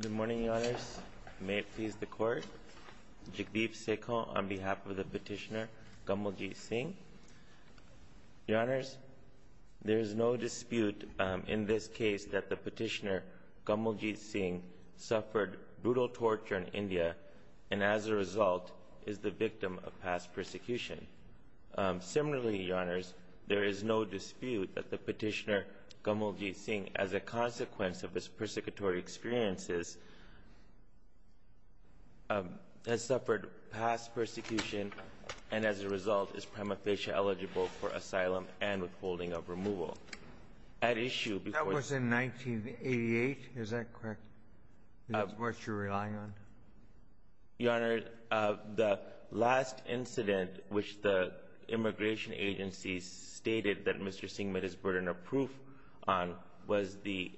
Good morning, Your Honours. May it please the Court. Jagdeep Sekhon on behalf of the Petitioner, Gamaljeet Singh. Your Honours, there is no dispute in this case that the Petitioner, Gamaljeet Singh, suffered brutal torture in India and as a result is the victim of past persecution. Similarly, Your Honours, there is no dispute that the Petitioner, Gamaljeet Singh, as a consequence of his persecutory experiences, has suffered past persecution and as a result is prima facie eligible for asylum and withholding of removal. That was in 1988. Is that correct? Is that what you're relying on? Your Honours, the last incident which the immigration agencies stated that Mr. Singh met his burden of proof on was the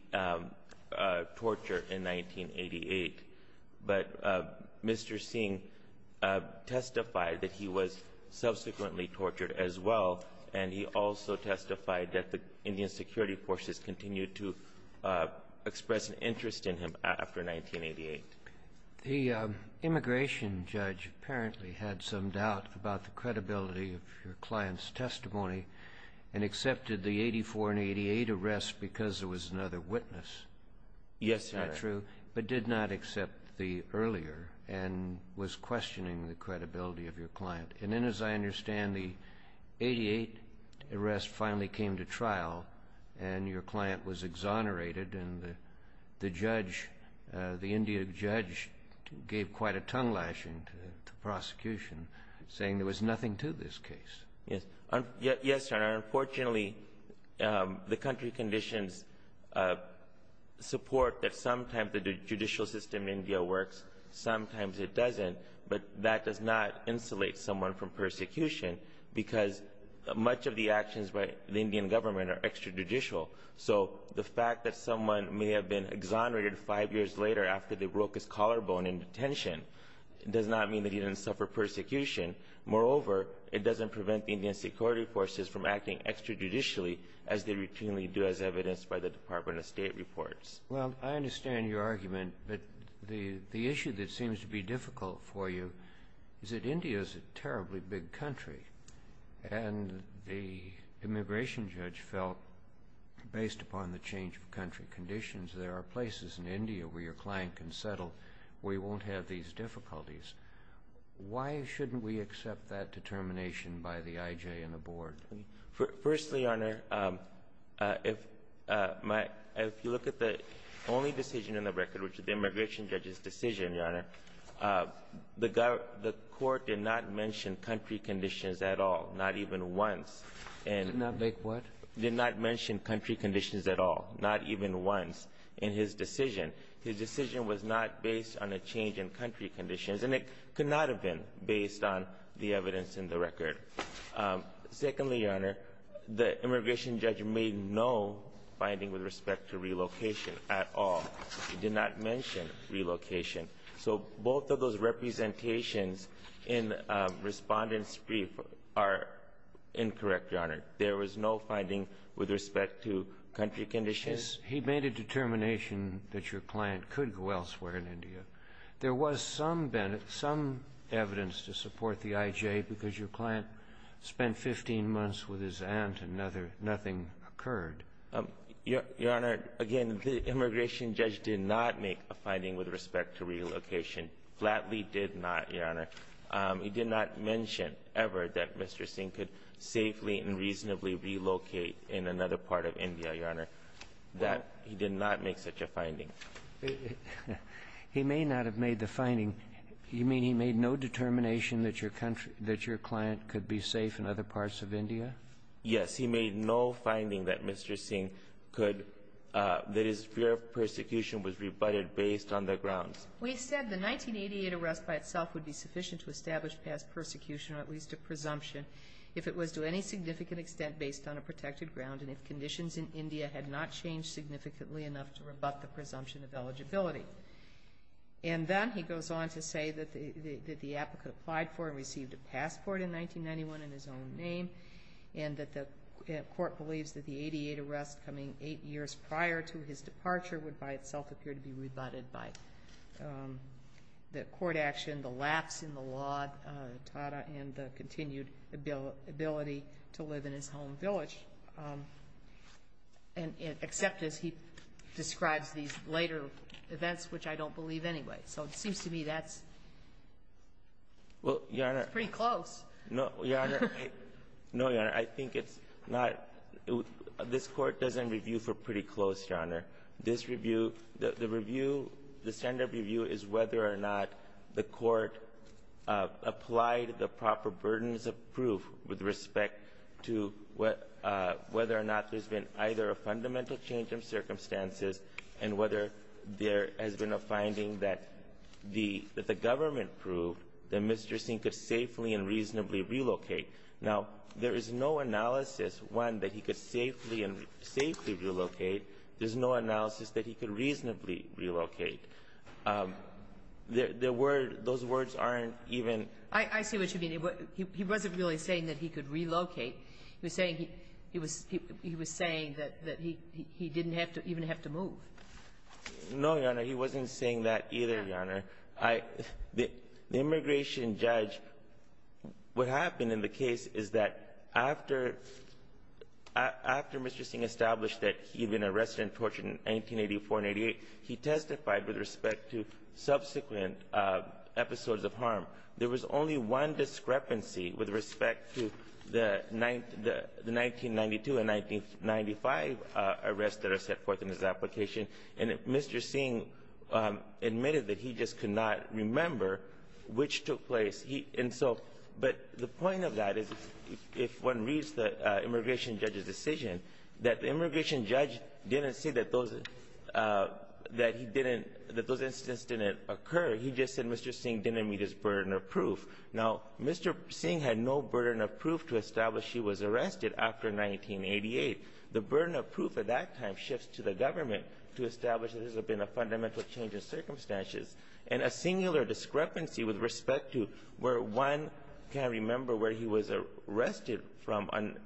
torture in 1988. But Mr. Singh testified that he was subsequently tortured as well, and he also testified that the Indian security forces continued to express an interest in him after 1988. The immigration judge apparently had some doubt about the credibility of your client's immediate arrest because there was another witness. Yes, Your Honours. But did not accept the earlier and was questioning the credibility of your client. And then, as I understand, the 1988 arrest finally came to trial and your client was exonerated and the judge, the Indian judge, gave quite a tongue lashing to the prosecution, saying there was nothing to this case. Yes, Your Honours. Unfortunately, the country conditions support that sometimes the judicial system in India works, sometimes it doesn't, but that does not insulate someone from persecution because much of the actions by the Indian government are extrajudicial. So the fact that someone may have been exonerated five years later after they broke his collarbone in detention does not mean that he didn't suffer persecution. Moreover, it doesn't prevent the Indian security forces from acting extrajudicially as they routinely do as evidenced by the Department of State reports. Well, I understand your argument, but the issue that seems to be difficult for you is that India is a terribly big country and the immigration judge felt, based upon the change of country conditions, there are places in India where your client can settle where he won't have these difficulties. Why shouldn't we accept that determination by the IJ and the board? Firstly, Your Honor, if my — if you look at the only decision in the record, which is the immigration judge's decision, Your Honor, the court did not mention country conditions at all, not even once. Did not make what? Did not mention country conditions at all, not even once in his decision. His decision was not based on a change in country conditions, and it could not have been based on the evidence in the record. Secondly, Your Honor, the immigration judge made no finding with respect to relocation at all. He did not mention relocation. So both of those representations in Respondent's brief are incorrect, Your Honor. There was no finding with respect to country conditions. He made a determination that your client could go elsewhere in India. There was some evidence to support the IJ because your client spent 15 months with his aunt and nothing occurred. Your Honor, again, the immigration judge did not make a finding with respect to relocation, flatly did not, Your Honor. He did not mention ever that Mr. Singh could safely and reasonably relocate in another part of India, Your Honor. That he did not make such a finding. He may not have made the finding. You mean he made no determination that your client could be safe in other parts of India? Yes. He made no finding that Mr. Singh could — that his fear of persecution was rebutted based on the grounds. We said the 1988 arrest by itself would be sufficient to establish past persecution in India had not changed significantly enough to rebut the presumption of eligibility. And then he goes on to say that the applicant applied for and received a passport in 1991 in his own name and that the court believes that the 88 arrests coming eight years prior to his departure would by itself appear to be rebutted by the court action, the lapse in the law, Tata, and the continued ability to live in his home village. And except as he describes these later events, which I don't believe anyway. So it seems to me that's pretty close. Well, Your Honor, no, Your Honor. No, Your Honor, I think it's not — this court doesn't review for pretty close, Your Honor. This review, the review, the standard review is whether or not the court applied the proper burdens of proof with respect to whether or not there's been either a fundamental change in circumstances and whether there has been a finding that the government proved that Mr. Singh could safely and reasonably relocate. Now, there is no analysis, one, that he could safely and — safely relocate. There's no analysis that he could reasonably relocate. The word — those words aren't even — I see what you mean. He wasn't really saying that he could relocate. He was saying he — he was — he was saying that he — he didn't have to — even have to move. No, Your Honor. He wasn't saying that either, Your Honor. The immigration judge — what happened in the case is that after — after Mr. Singh established that he had been arrested and tortured in 1984 and 1988, he testified with respect to subsequent episodes of harm. There was only one discrepancy with respect to the — the 1992 and 1995 arrests that are set forth in his application, and Mr. Singh admitted that he just could not remember which took place. And so — but the point of that is if one reads the immigration judge's decision that the immigration judge didn't say that those — that he didn't — that those incidents didn't occur. He just said Mr. Singh didn't meet his burden of proof. Now, Mr. Singh had no burden of proof to establish he was arrested after 1988. The burden of proof at that time shifts to the government to establish that this has been a fundamental change in circumstances. And a singular discrepancy with respect to where one can remember where he was arrested from on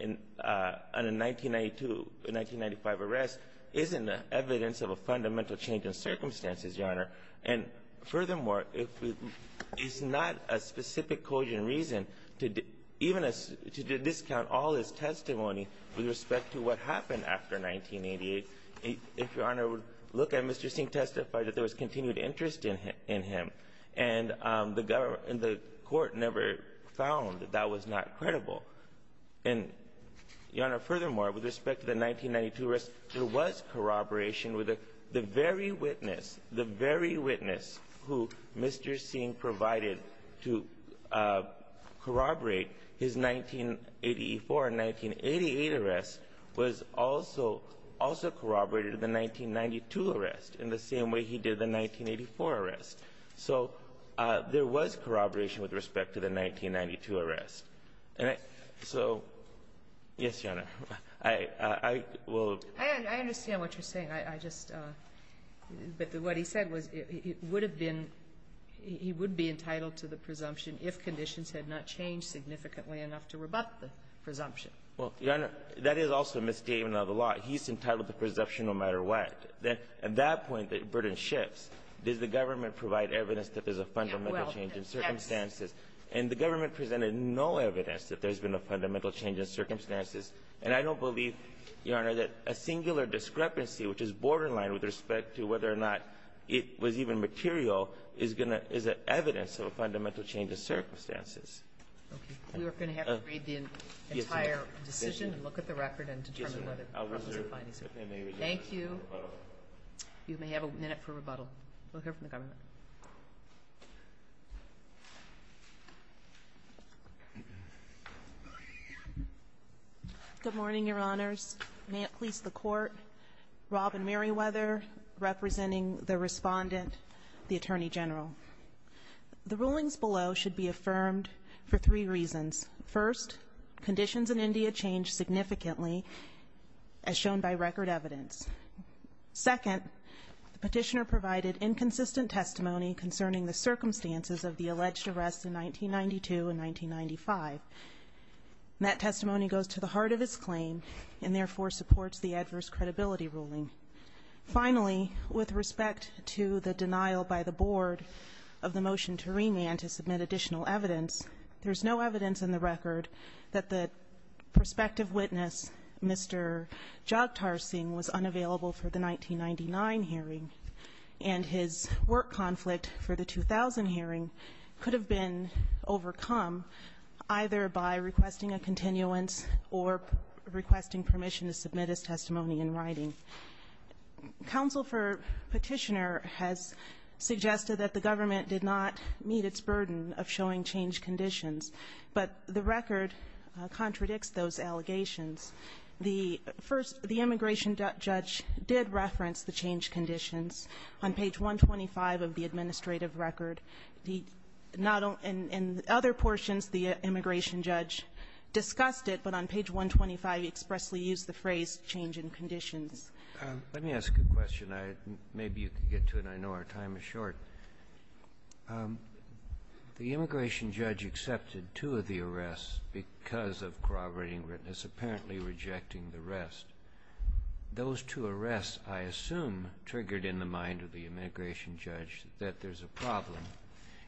a 1992-1995 arrest isn't evidence of a fundamental change in circumstances, Your Honor. And furthermore, if — it's not a specific cogent reason to — even to discount all his testimony with respect to what happened after 1988. If Your Honor would look at Mr. Singh testified that there was continued interest in him, and the government — and the court never found that that was not credible, and, Your Honor, furthermore, with respect to the 1992 arrest, there was corroboration with the very witness — the very witness who Mr. Singh provided to corroborate his 1984 and 1988 arrests was also — also corroborated the 1992 arrest in the same way he did the 1984 arrest. So there was corroboration with respect to the 1992 arrest. And so — yes, Your Honor. I will — I understand what you're saying. I just — but what he said was it would have been — he would be entitled to the presumption if conditions had not changed significantly enough to rebut the presumption. Well, Your Honor, that is also a misstatement of the law. He's entitled to presumption no matter what. At that point, the burden shifts. Does the government provide evidence that there's a fundamental change in circumstances? And the government presented no evidence that there's been a fundamental change in circumstances. And I don't believe, Your Honor, that a singular discrepancy, which is borderline with respect to whether or not it was even material, is going to — is evidence of a fundamental change in circumstances. Okay. We are going to have to read the entire decision and look at the record and determine whether — Yes, ma'am. I'll reserve — Thank you. You may have a minute for rebuttal. We'll hear from the government. Good morning, Your Honors. May it please the Court. Robin Meriwether representing the Respondent, the Attorney General. The rulings below should be affirmed for three reasons. First, conditions in India changed significantly, as shown by record evidence. Second, the petitioner provided inconsistent testimony concerning the circumstances of the alleged arrests in 1992 and 1995. That testimony goes to the heart of his claim and, therefore, supports the adverse credibility ruling. Finally, with respect to the denial by the board of the motion to remand to submit additional evidence, there's no evidence in the record that the prospective witness, Mr. Jagtar Singh, was unavailable for the 1999 hearing. And his work conflict for the 2000 hearing could have been overcome either by requesting a continuance or requesting permission to submit his testimony in writing. Counsel for Petitioner has suggested that the government did not meet its burden of showing changed conditions. But the record contradicts those allegations. The first, the immigration judge did reference the changed conditions on page 125 of the administrative record. He not only in other portions, the immigration judge discussed it, but on page 125 he expressly used the phrase, change in conditions. Let me ask a question. Maybe you can get to it. I know our time is short. The immigration judge accepted two of the arrests because of corroborating witness, apparently rejecting the rest. Those two arrests, I assume, triggered in the mind of the immigration judge that there's a problem.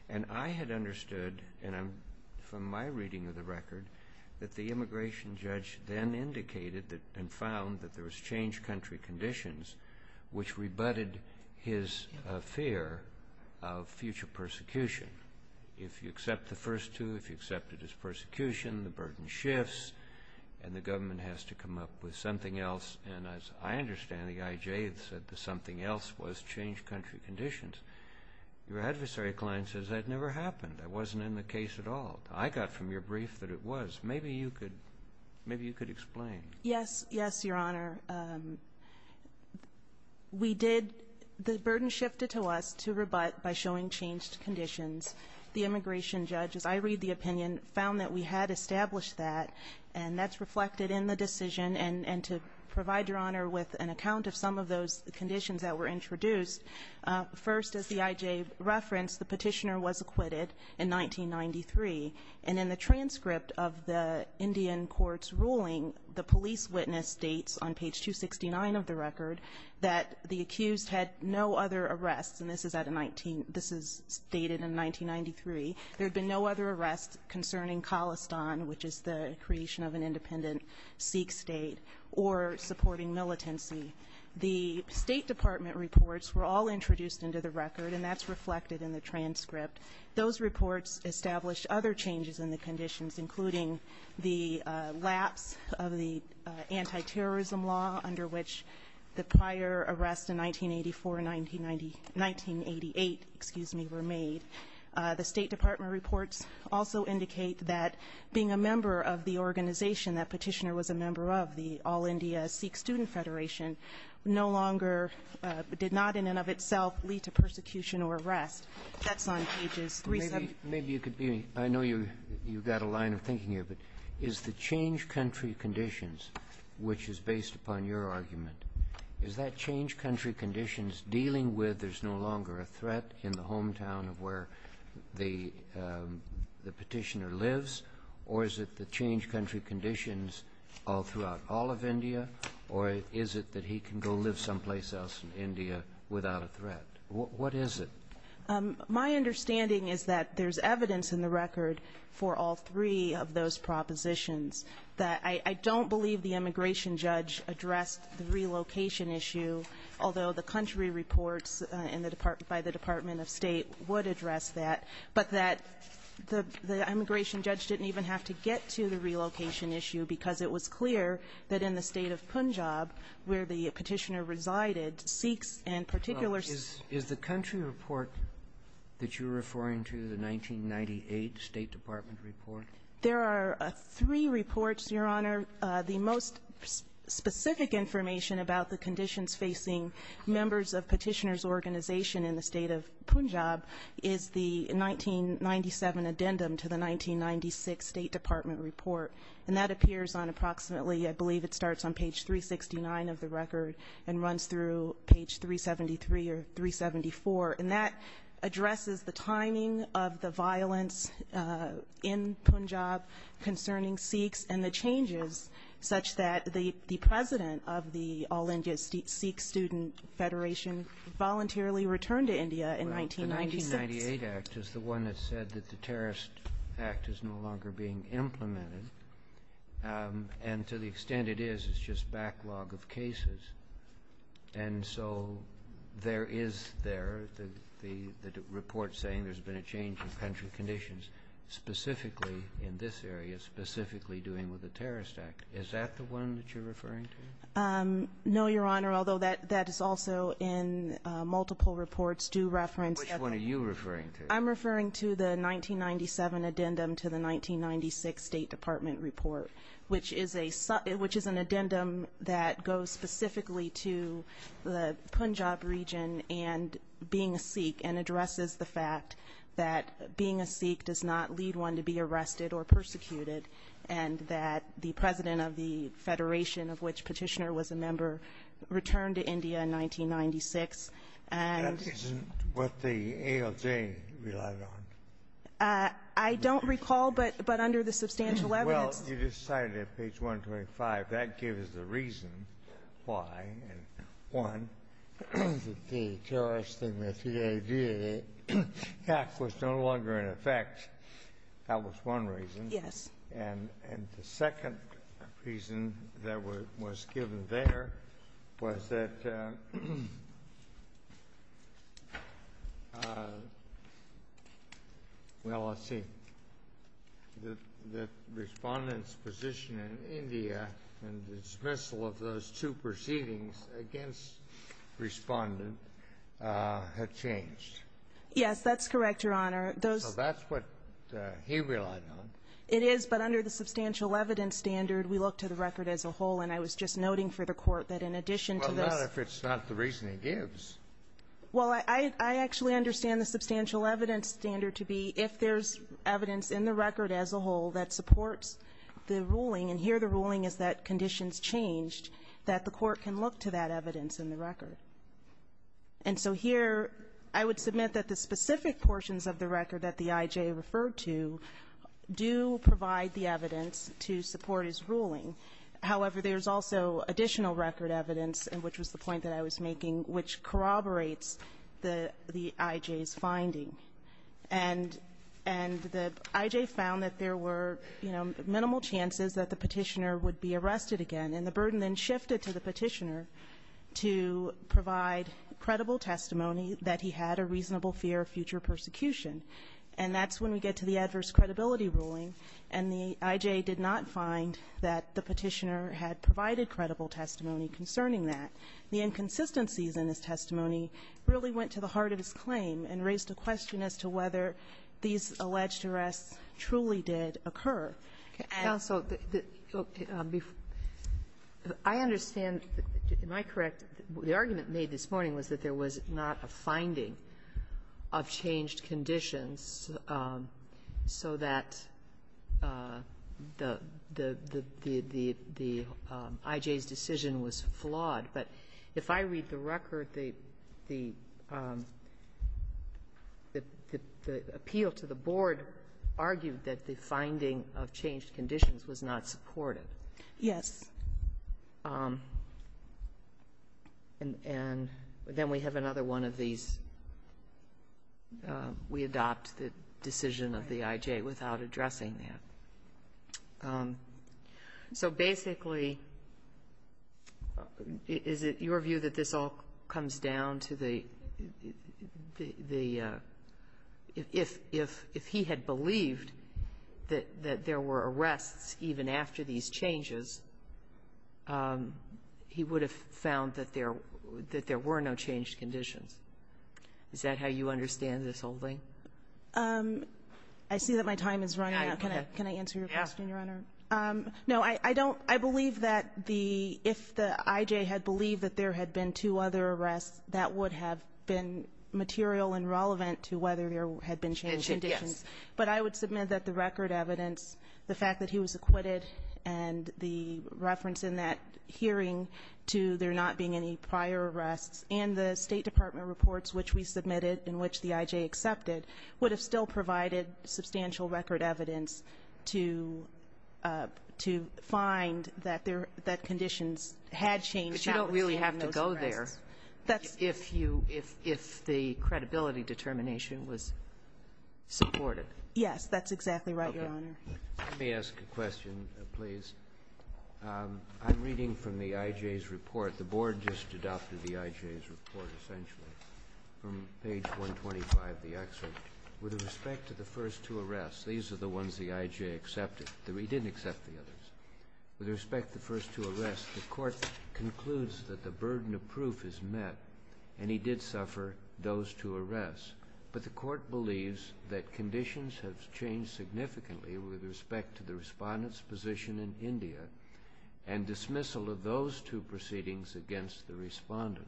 And I had understood from my reading of the record that the immigration judge then indicated and found that there was changed country conditions, which rebutted his fear of future persecution. If you accept the first two, if you accepted his persecution, the burden shifts and the government has to come up with something else. And as I understand, the IJ had said that something else was changed country conditions. Your adversary client says that never happened. That wasn't in the case at all. I got from your brief that it was. Maybe you could explain. Yes, Your Honor. We did the burden shifted to us to rebut by showing changed conditions. The immigration judge, as I read the opinion, found that we had established that, and that's reflected in the decision. And to provide Your Honor with an account of some of those conditions that were introduced, first, as the IJ referenced, the petitioner was acquitted in 1993. And in the transcript of the Indian court's ruling, the police witness states on page 269 of the record that the accused had no other arrests, and this is at a 19 — this is stated in 1993. There had been no other arrests concerning Khalistan, which is the creation of an independent Sikh state, or supporting militancy. The State Department reports were all introduced into the record, and that's reflected in the transcript. Those reports established other changes in the conditions, including the lapse of the anti-terrorism law, under which the prior arrests in 1984 and 1988, excuse me, were made. The State Department reports also indicate that being a member of the organization that petitioner was a member of, the All India Sikh Student Federation, no longer did not in and of itself lead to persecution or arrest. That's on pages 370. Maybe you could be — I know you've got a line of thinking here, but is the change country conditions, which is based upon your argument, is that change country conditions dealing with there's no longer a threat in the hometown of where the petitioner lives, or is it the change country conditions all throughout all of India, or is it that he can go live someplace else in India without a threat? What is it? My understanding is that there's evidence in the record for all three of those propositions. I don't believe the immigration judge addressed the relocation issue, although the country reports by the Department of State would address that, but that the immigration judge didn't even have to get to the relocation issue because it was clear that in the state of Punjab, where the petitioner resided, Sikhs in particular — Is the country report that you're referring to the 1998 State Department report? There are three reports, Your Honor. The most specific information about the conditions facing members of petitioners' organization in the state of Punjab is the 1997 addendum to the 1996 State Department report, and that appears on approximately, I believe it starts on page 369 of the addendum to page 373 or 374. And that addresses the timing of the violence in Punjab concerning Sikhs and the changes such that the president of the All India Sikh Student Federation voluntarily returned to India in 1996. Well, the 1998 act is the one that said that the terrorist act is no longer being And so there is there the report saying there's been a change in country conditions specifically in this area, specifically dealing with the terrorist act. Is that the one that you're referring to? No, Your Honor, although that is also in multiple reports due reference. Which one are you referring to? I'm referring to the 1997 addendum to the 1996 State Department report, which is an addendum that goes specifically to the Punjab region and being a Sikh and addresses the fact that being a Sikh does not lead one to be arrested or persecuted and that the president of the federation of which petitioner was a member returned to India in 1996. That isn't what the ALJ relied on. I don't recall, but under the substantial evidence. Well, you just cited it page 125. That gives the reason why. One, the terrorist act was no longer in effect. That was one reason. Yes. And the second reason that was given there was that, well, let's see. The Respondent's position in India and the dismissal of those two proceedings against Respondent had changed. Yes, that's correct, Your Honor. So that's what he relied on. It is, but under the substantial evidence standard, we look to the record as a whole, and I was just noting for the Court that in addition to this. Well, not if it's not the reason he gives. Well, I actually understand the substantial evidence standard to be if there's evidence in the record as a whole that supports the ruling, and here the ruling is that conditions changed, that the Court can look to that evidence in the record. And so here I would submit that the specific portions of the record that the IJ referred to do provide the evidence to support his ruling. However, there's also additional record evidence, which was the point that I was making, which corroborates the IJ's finding. And the IJ found that there were, you know, minimal chances that the Petitioner would be arrested again, and the burden then shifted to the Petitioner to provide credible testimony that he had a reasonable fear of future persecution. And that's when we get to the adverse credibility ruling, and the IJ did not find that the Petitioner had provided credible testimony concerning that. The inconsistencies in his testimony really went to the heart of his claim and raised a question as to whether these alleged arrests truly did occur. And so the – I understand. Am I correct? The argument made this morning was that there was not a finding of changed conditions so that the IJ's decision was flawed. But if I read the record, the appeal to the board argued that the finding of changed conditions was not supportive. Yes. And then we have another one of these, we adopt the decision of the IJ without addressing that. So basically, is it your view that this all comes down to the – if he had believed that there were arrests even after these changes, he would have found that there were no changed conditions? Is that how you understand this whole thing? I see that my time is running out. Can I answer your question, Your Honor? No, I don't – I believe that the – if the IJ had believed that there had been two other arrests, that would have been material and relevant to whether there had been changed conditions. Yes. But I would submit that the record evidence, the fact that he was acquitted, and the reference in that hearing to there not being any prior arrests, and the State Department reports which we submitted and which the IJ accepted, would have still provided substantial record evidence to find that conditions had changed. But you don't really have to go there if you – if the credibility determination was supported. Yes, that's exactly right, Your Honor. Let me ask a question, please. I'm reading from the IJ's report. The Board just adopted the IJ's report, essentially, from page 125 of the excerpt. With respect to the first two arrests, these are the ones the IJ accepted. He didn't accept the others. With respect to the first two arrests, the Court concludes that the burden of proof is met, and he did suffer those two arrests. But the Court believes that conditions have changed significantly with respect to the Respondent's position in India and dismissal of those two proceedings against the Respondent.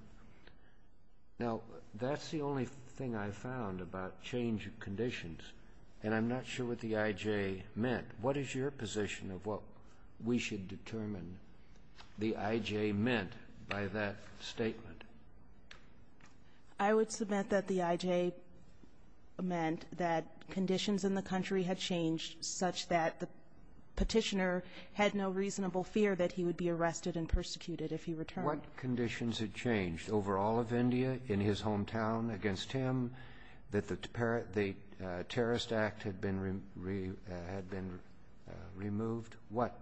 Now, that's the only thing I found about change of conditions, and I'm not sure what the IJ meant. What is your position of what we should determine the IJ meant by that statement? I would submit that the IJ meant that conditions in the country had changed such that the Petitioner had no reasonable fear that he would be arrested and persecuted if he returned. What conditions had changed over all of India, in his hometown, against him, that the Terrorist Act had been removed? What?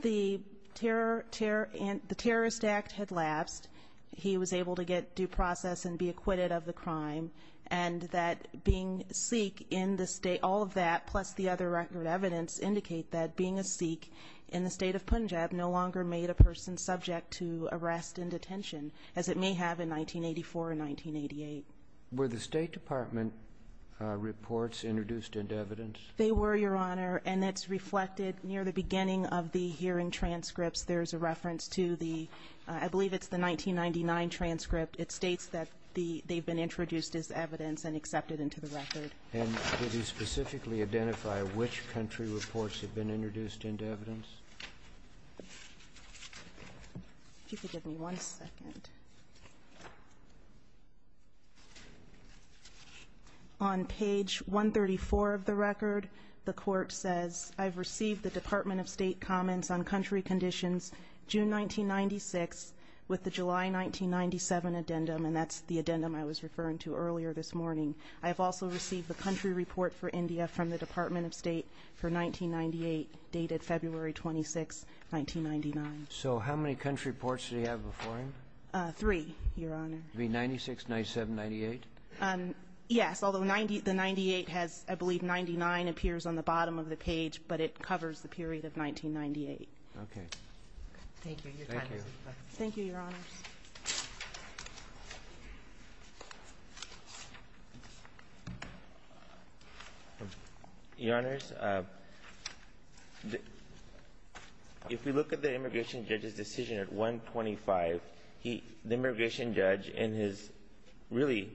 The Terrorist Act had lapsed. He was able to get due process and be acquitted of the crime, and that being Sikh in the state, all of that, plus the other record evidence, indicate that being a Sikh in the state of Punjab no longer made a person subject to arrest and detention, as it may have in 1984 and 1988. Were the State Department reports introduced into evidence? They were, Your Honor. And it's reflected near the beginning of the hearing transcripts. There's a reference to the 1999 transcript. It states that they've been introduced as evidence and accepted into the record. And did you specifically identify which country reports have been introduced into evidence? If you could give me one second. On page 134 of the record, the Court says, I've received the Department of State comments on country conditions June 1996 with the July 1997 addendum, and that's the addendum I was referring to earlier this morning. I have also received the country report for India from the Department of State for 1998 dated February 26, 1999. So how many country reports do you have before him? Three, Your Honor. You mean 96, 97, 98? Yes, although the 98 has, I believe, 99 appears on the bottom of the page, but it covers the period of 1998. Okay. Thank you. Thank you. Thank you, Your Honors. Your Honors, if we look at the immigration judge's decision at 125, the immigration judge in his really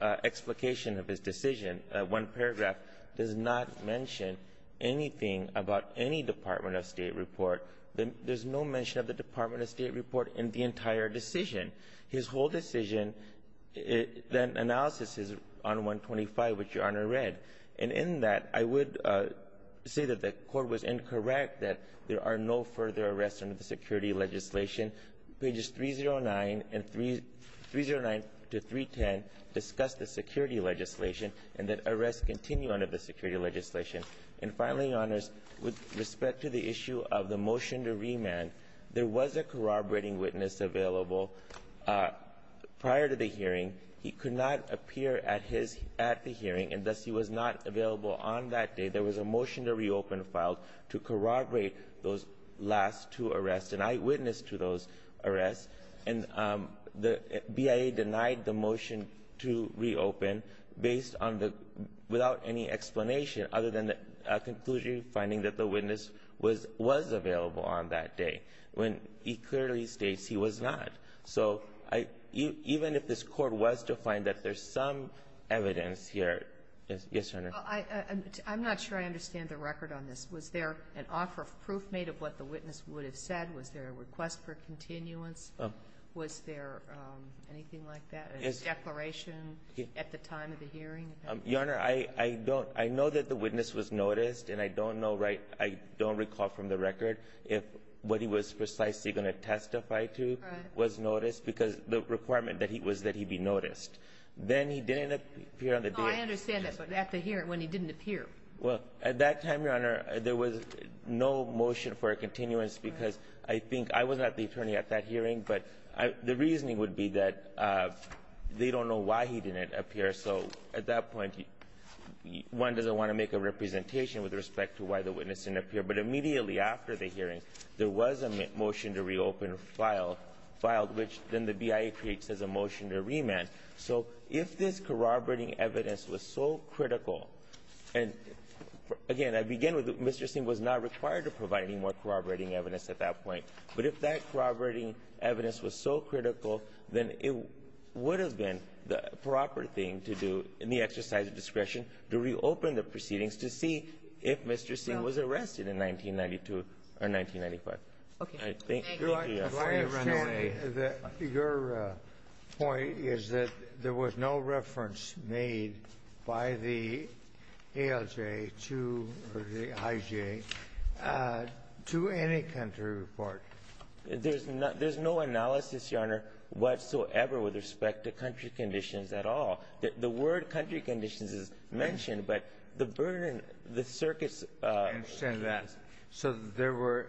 explication of his decision, one paragraph, does not mention anything about any Department of State report. There's no mention of the Department of State report in the entire paragraph. His whole decision, that analysis is on 125, which Your Honor read. And in that, I would say that the Court was incorrect, that there are no further arrests under the security legislation. Pages 309 to 310 discuss the security legislation and that arrests continue under the security legislation. And finally, Your Honors, with respect to the issue of the motion to remand, there was a corroborating witness available prior to the hearing. He could not appear at the hearing, and thus he was not available on that day. There was a motion to reopen filed to corroborate those last two arrests, and I witnessed to those arrests. And the BIA denied the motion to reopen without any explanation, other than a conclusion finding that the witness was available on that day, when he clearly states he was not. So even if this Court was to find that there's some evidence here. Yes, Your Honor. I'm not sure I understand the record on this. Was there an offer of proof made of what the witness would have said? Was there a request for continuance? Was there anything like that, a declaration at the time of the hearing? Your Honor, I know that the witness was noticed, and I don't recall from the record what he was precisely going to testify to was noticed because the requirement was that he be noticed. Then he didn't appear on the day. I understand that, but at the hearing when he didn't appear. Well, at that time, Your Honor, there was no motion for a continuance because I think I was not the attorney at that hearing, but the reasoning would be that they don't know why he didn't appear. So at that point, one doesn't want to make a representation with respect to why the witness didn't appear. But immediately after the hearing, there was a motion to reopen filed, which then the BIA creates as a motion to remand. So if this corroborating evidence was so critical, and again, I begin with Mr. Singh was not required to provide any more corroborating evidence at that point. But if that corroborating evidence was so critical, then it would have been the proper thing to do in the exercise of discretion to reopen the proceedings to see if Mr. Singh was arrested in 1992 or 1995. Okay. Thank you. Your point is that there was no reference made by the ALJ to the IJ to any country report. There's no analysis, Your Honor, whatsoever with respect to country conditions at all. The word country conditions is mentioned, but the burden, the circuits. I understand that. So there were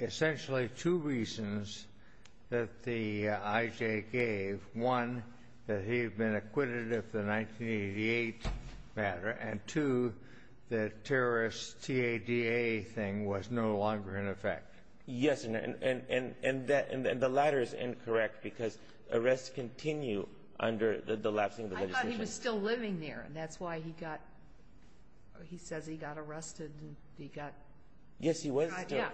essentially two reasons that the IJ gave. One, that he had been acquitted of the 1988 matter. And two, the terrorist TADA thing was no longer in effect. Yes. And the latter is incorrect because arrests continue under the lapsing of the legislation. I thought he was still living there, and that's why he got – he says he got arrested and he got – Yes, he was still. Yeah.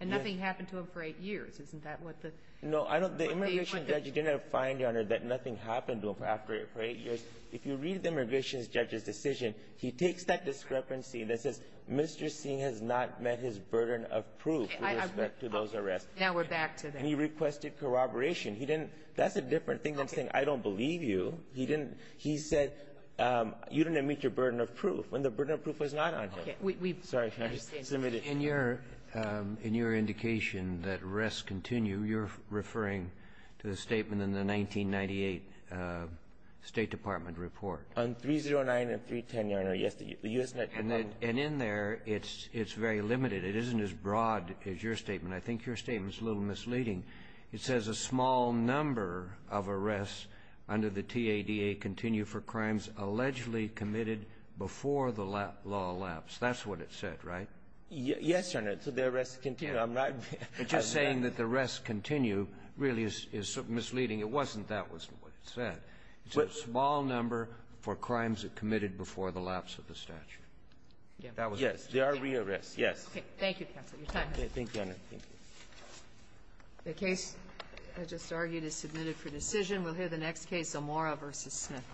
And nothing happened to him for eight years. Isn't that what the – No, I don't – the immigration judge did not find, Your Honor, that nothing happened to him after eight years. If you read the immigration judge's decision, he takes that discrepancy that says Mr. Singh has not met his burden of proof. Okay, I – With respect to those arrests. Now we're back to that. And he requested corroboration. He didn't – that's a different thing than saying I don't believe you. He didn't – he said you didn't meet your burden of proof when the burden of proof was not on him. Okay. We've – Sorry, Your Honor. In your indication that arrests continue, you're referring to the statement in the 1998 State Department report. On 309 and 310, Your Honor, yes, the U.S. – And in there, it's very limited. It isn't as broad as your statement. I think your statement's a little misleading. It says a small number of arrests under the TADA continue for crimes allegedly committed before the law elapsed. That's what it said, right? Yes, Your Honor. So the arrests continue. I'm not – But just saying that the arrests continue really is misleading. It wasn't that was what it said. It's a small number for crimes that committed before the lapse of the statute. That was it. Yes. There are re-arrests, yes. Okay. Thank you, counsel. Your time is up. Thank you, Your Honor. Thank you. The case I just argued is submitted for decision. We'll hear the next case, Omora v. Smith.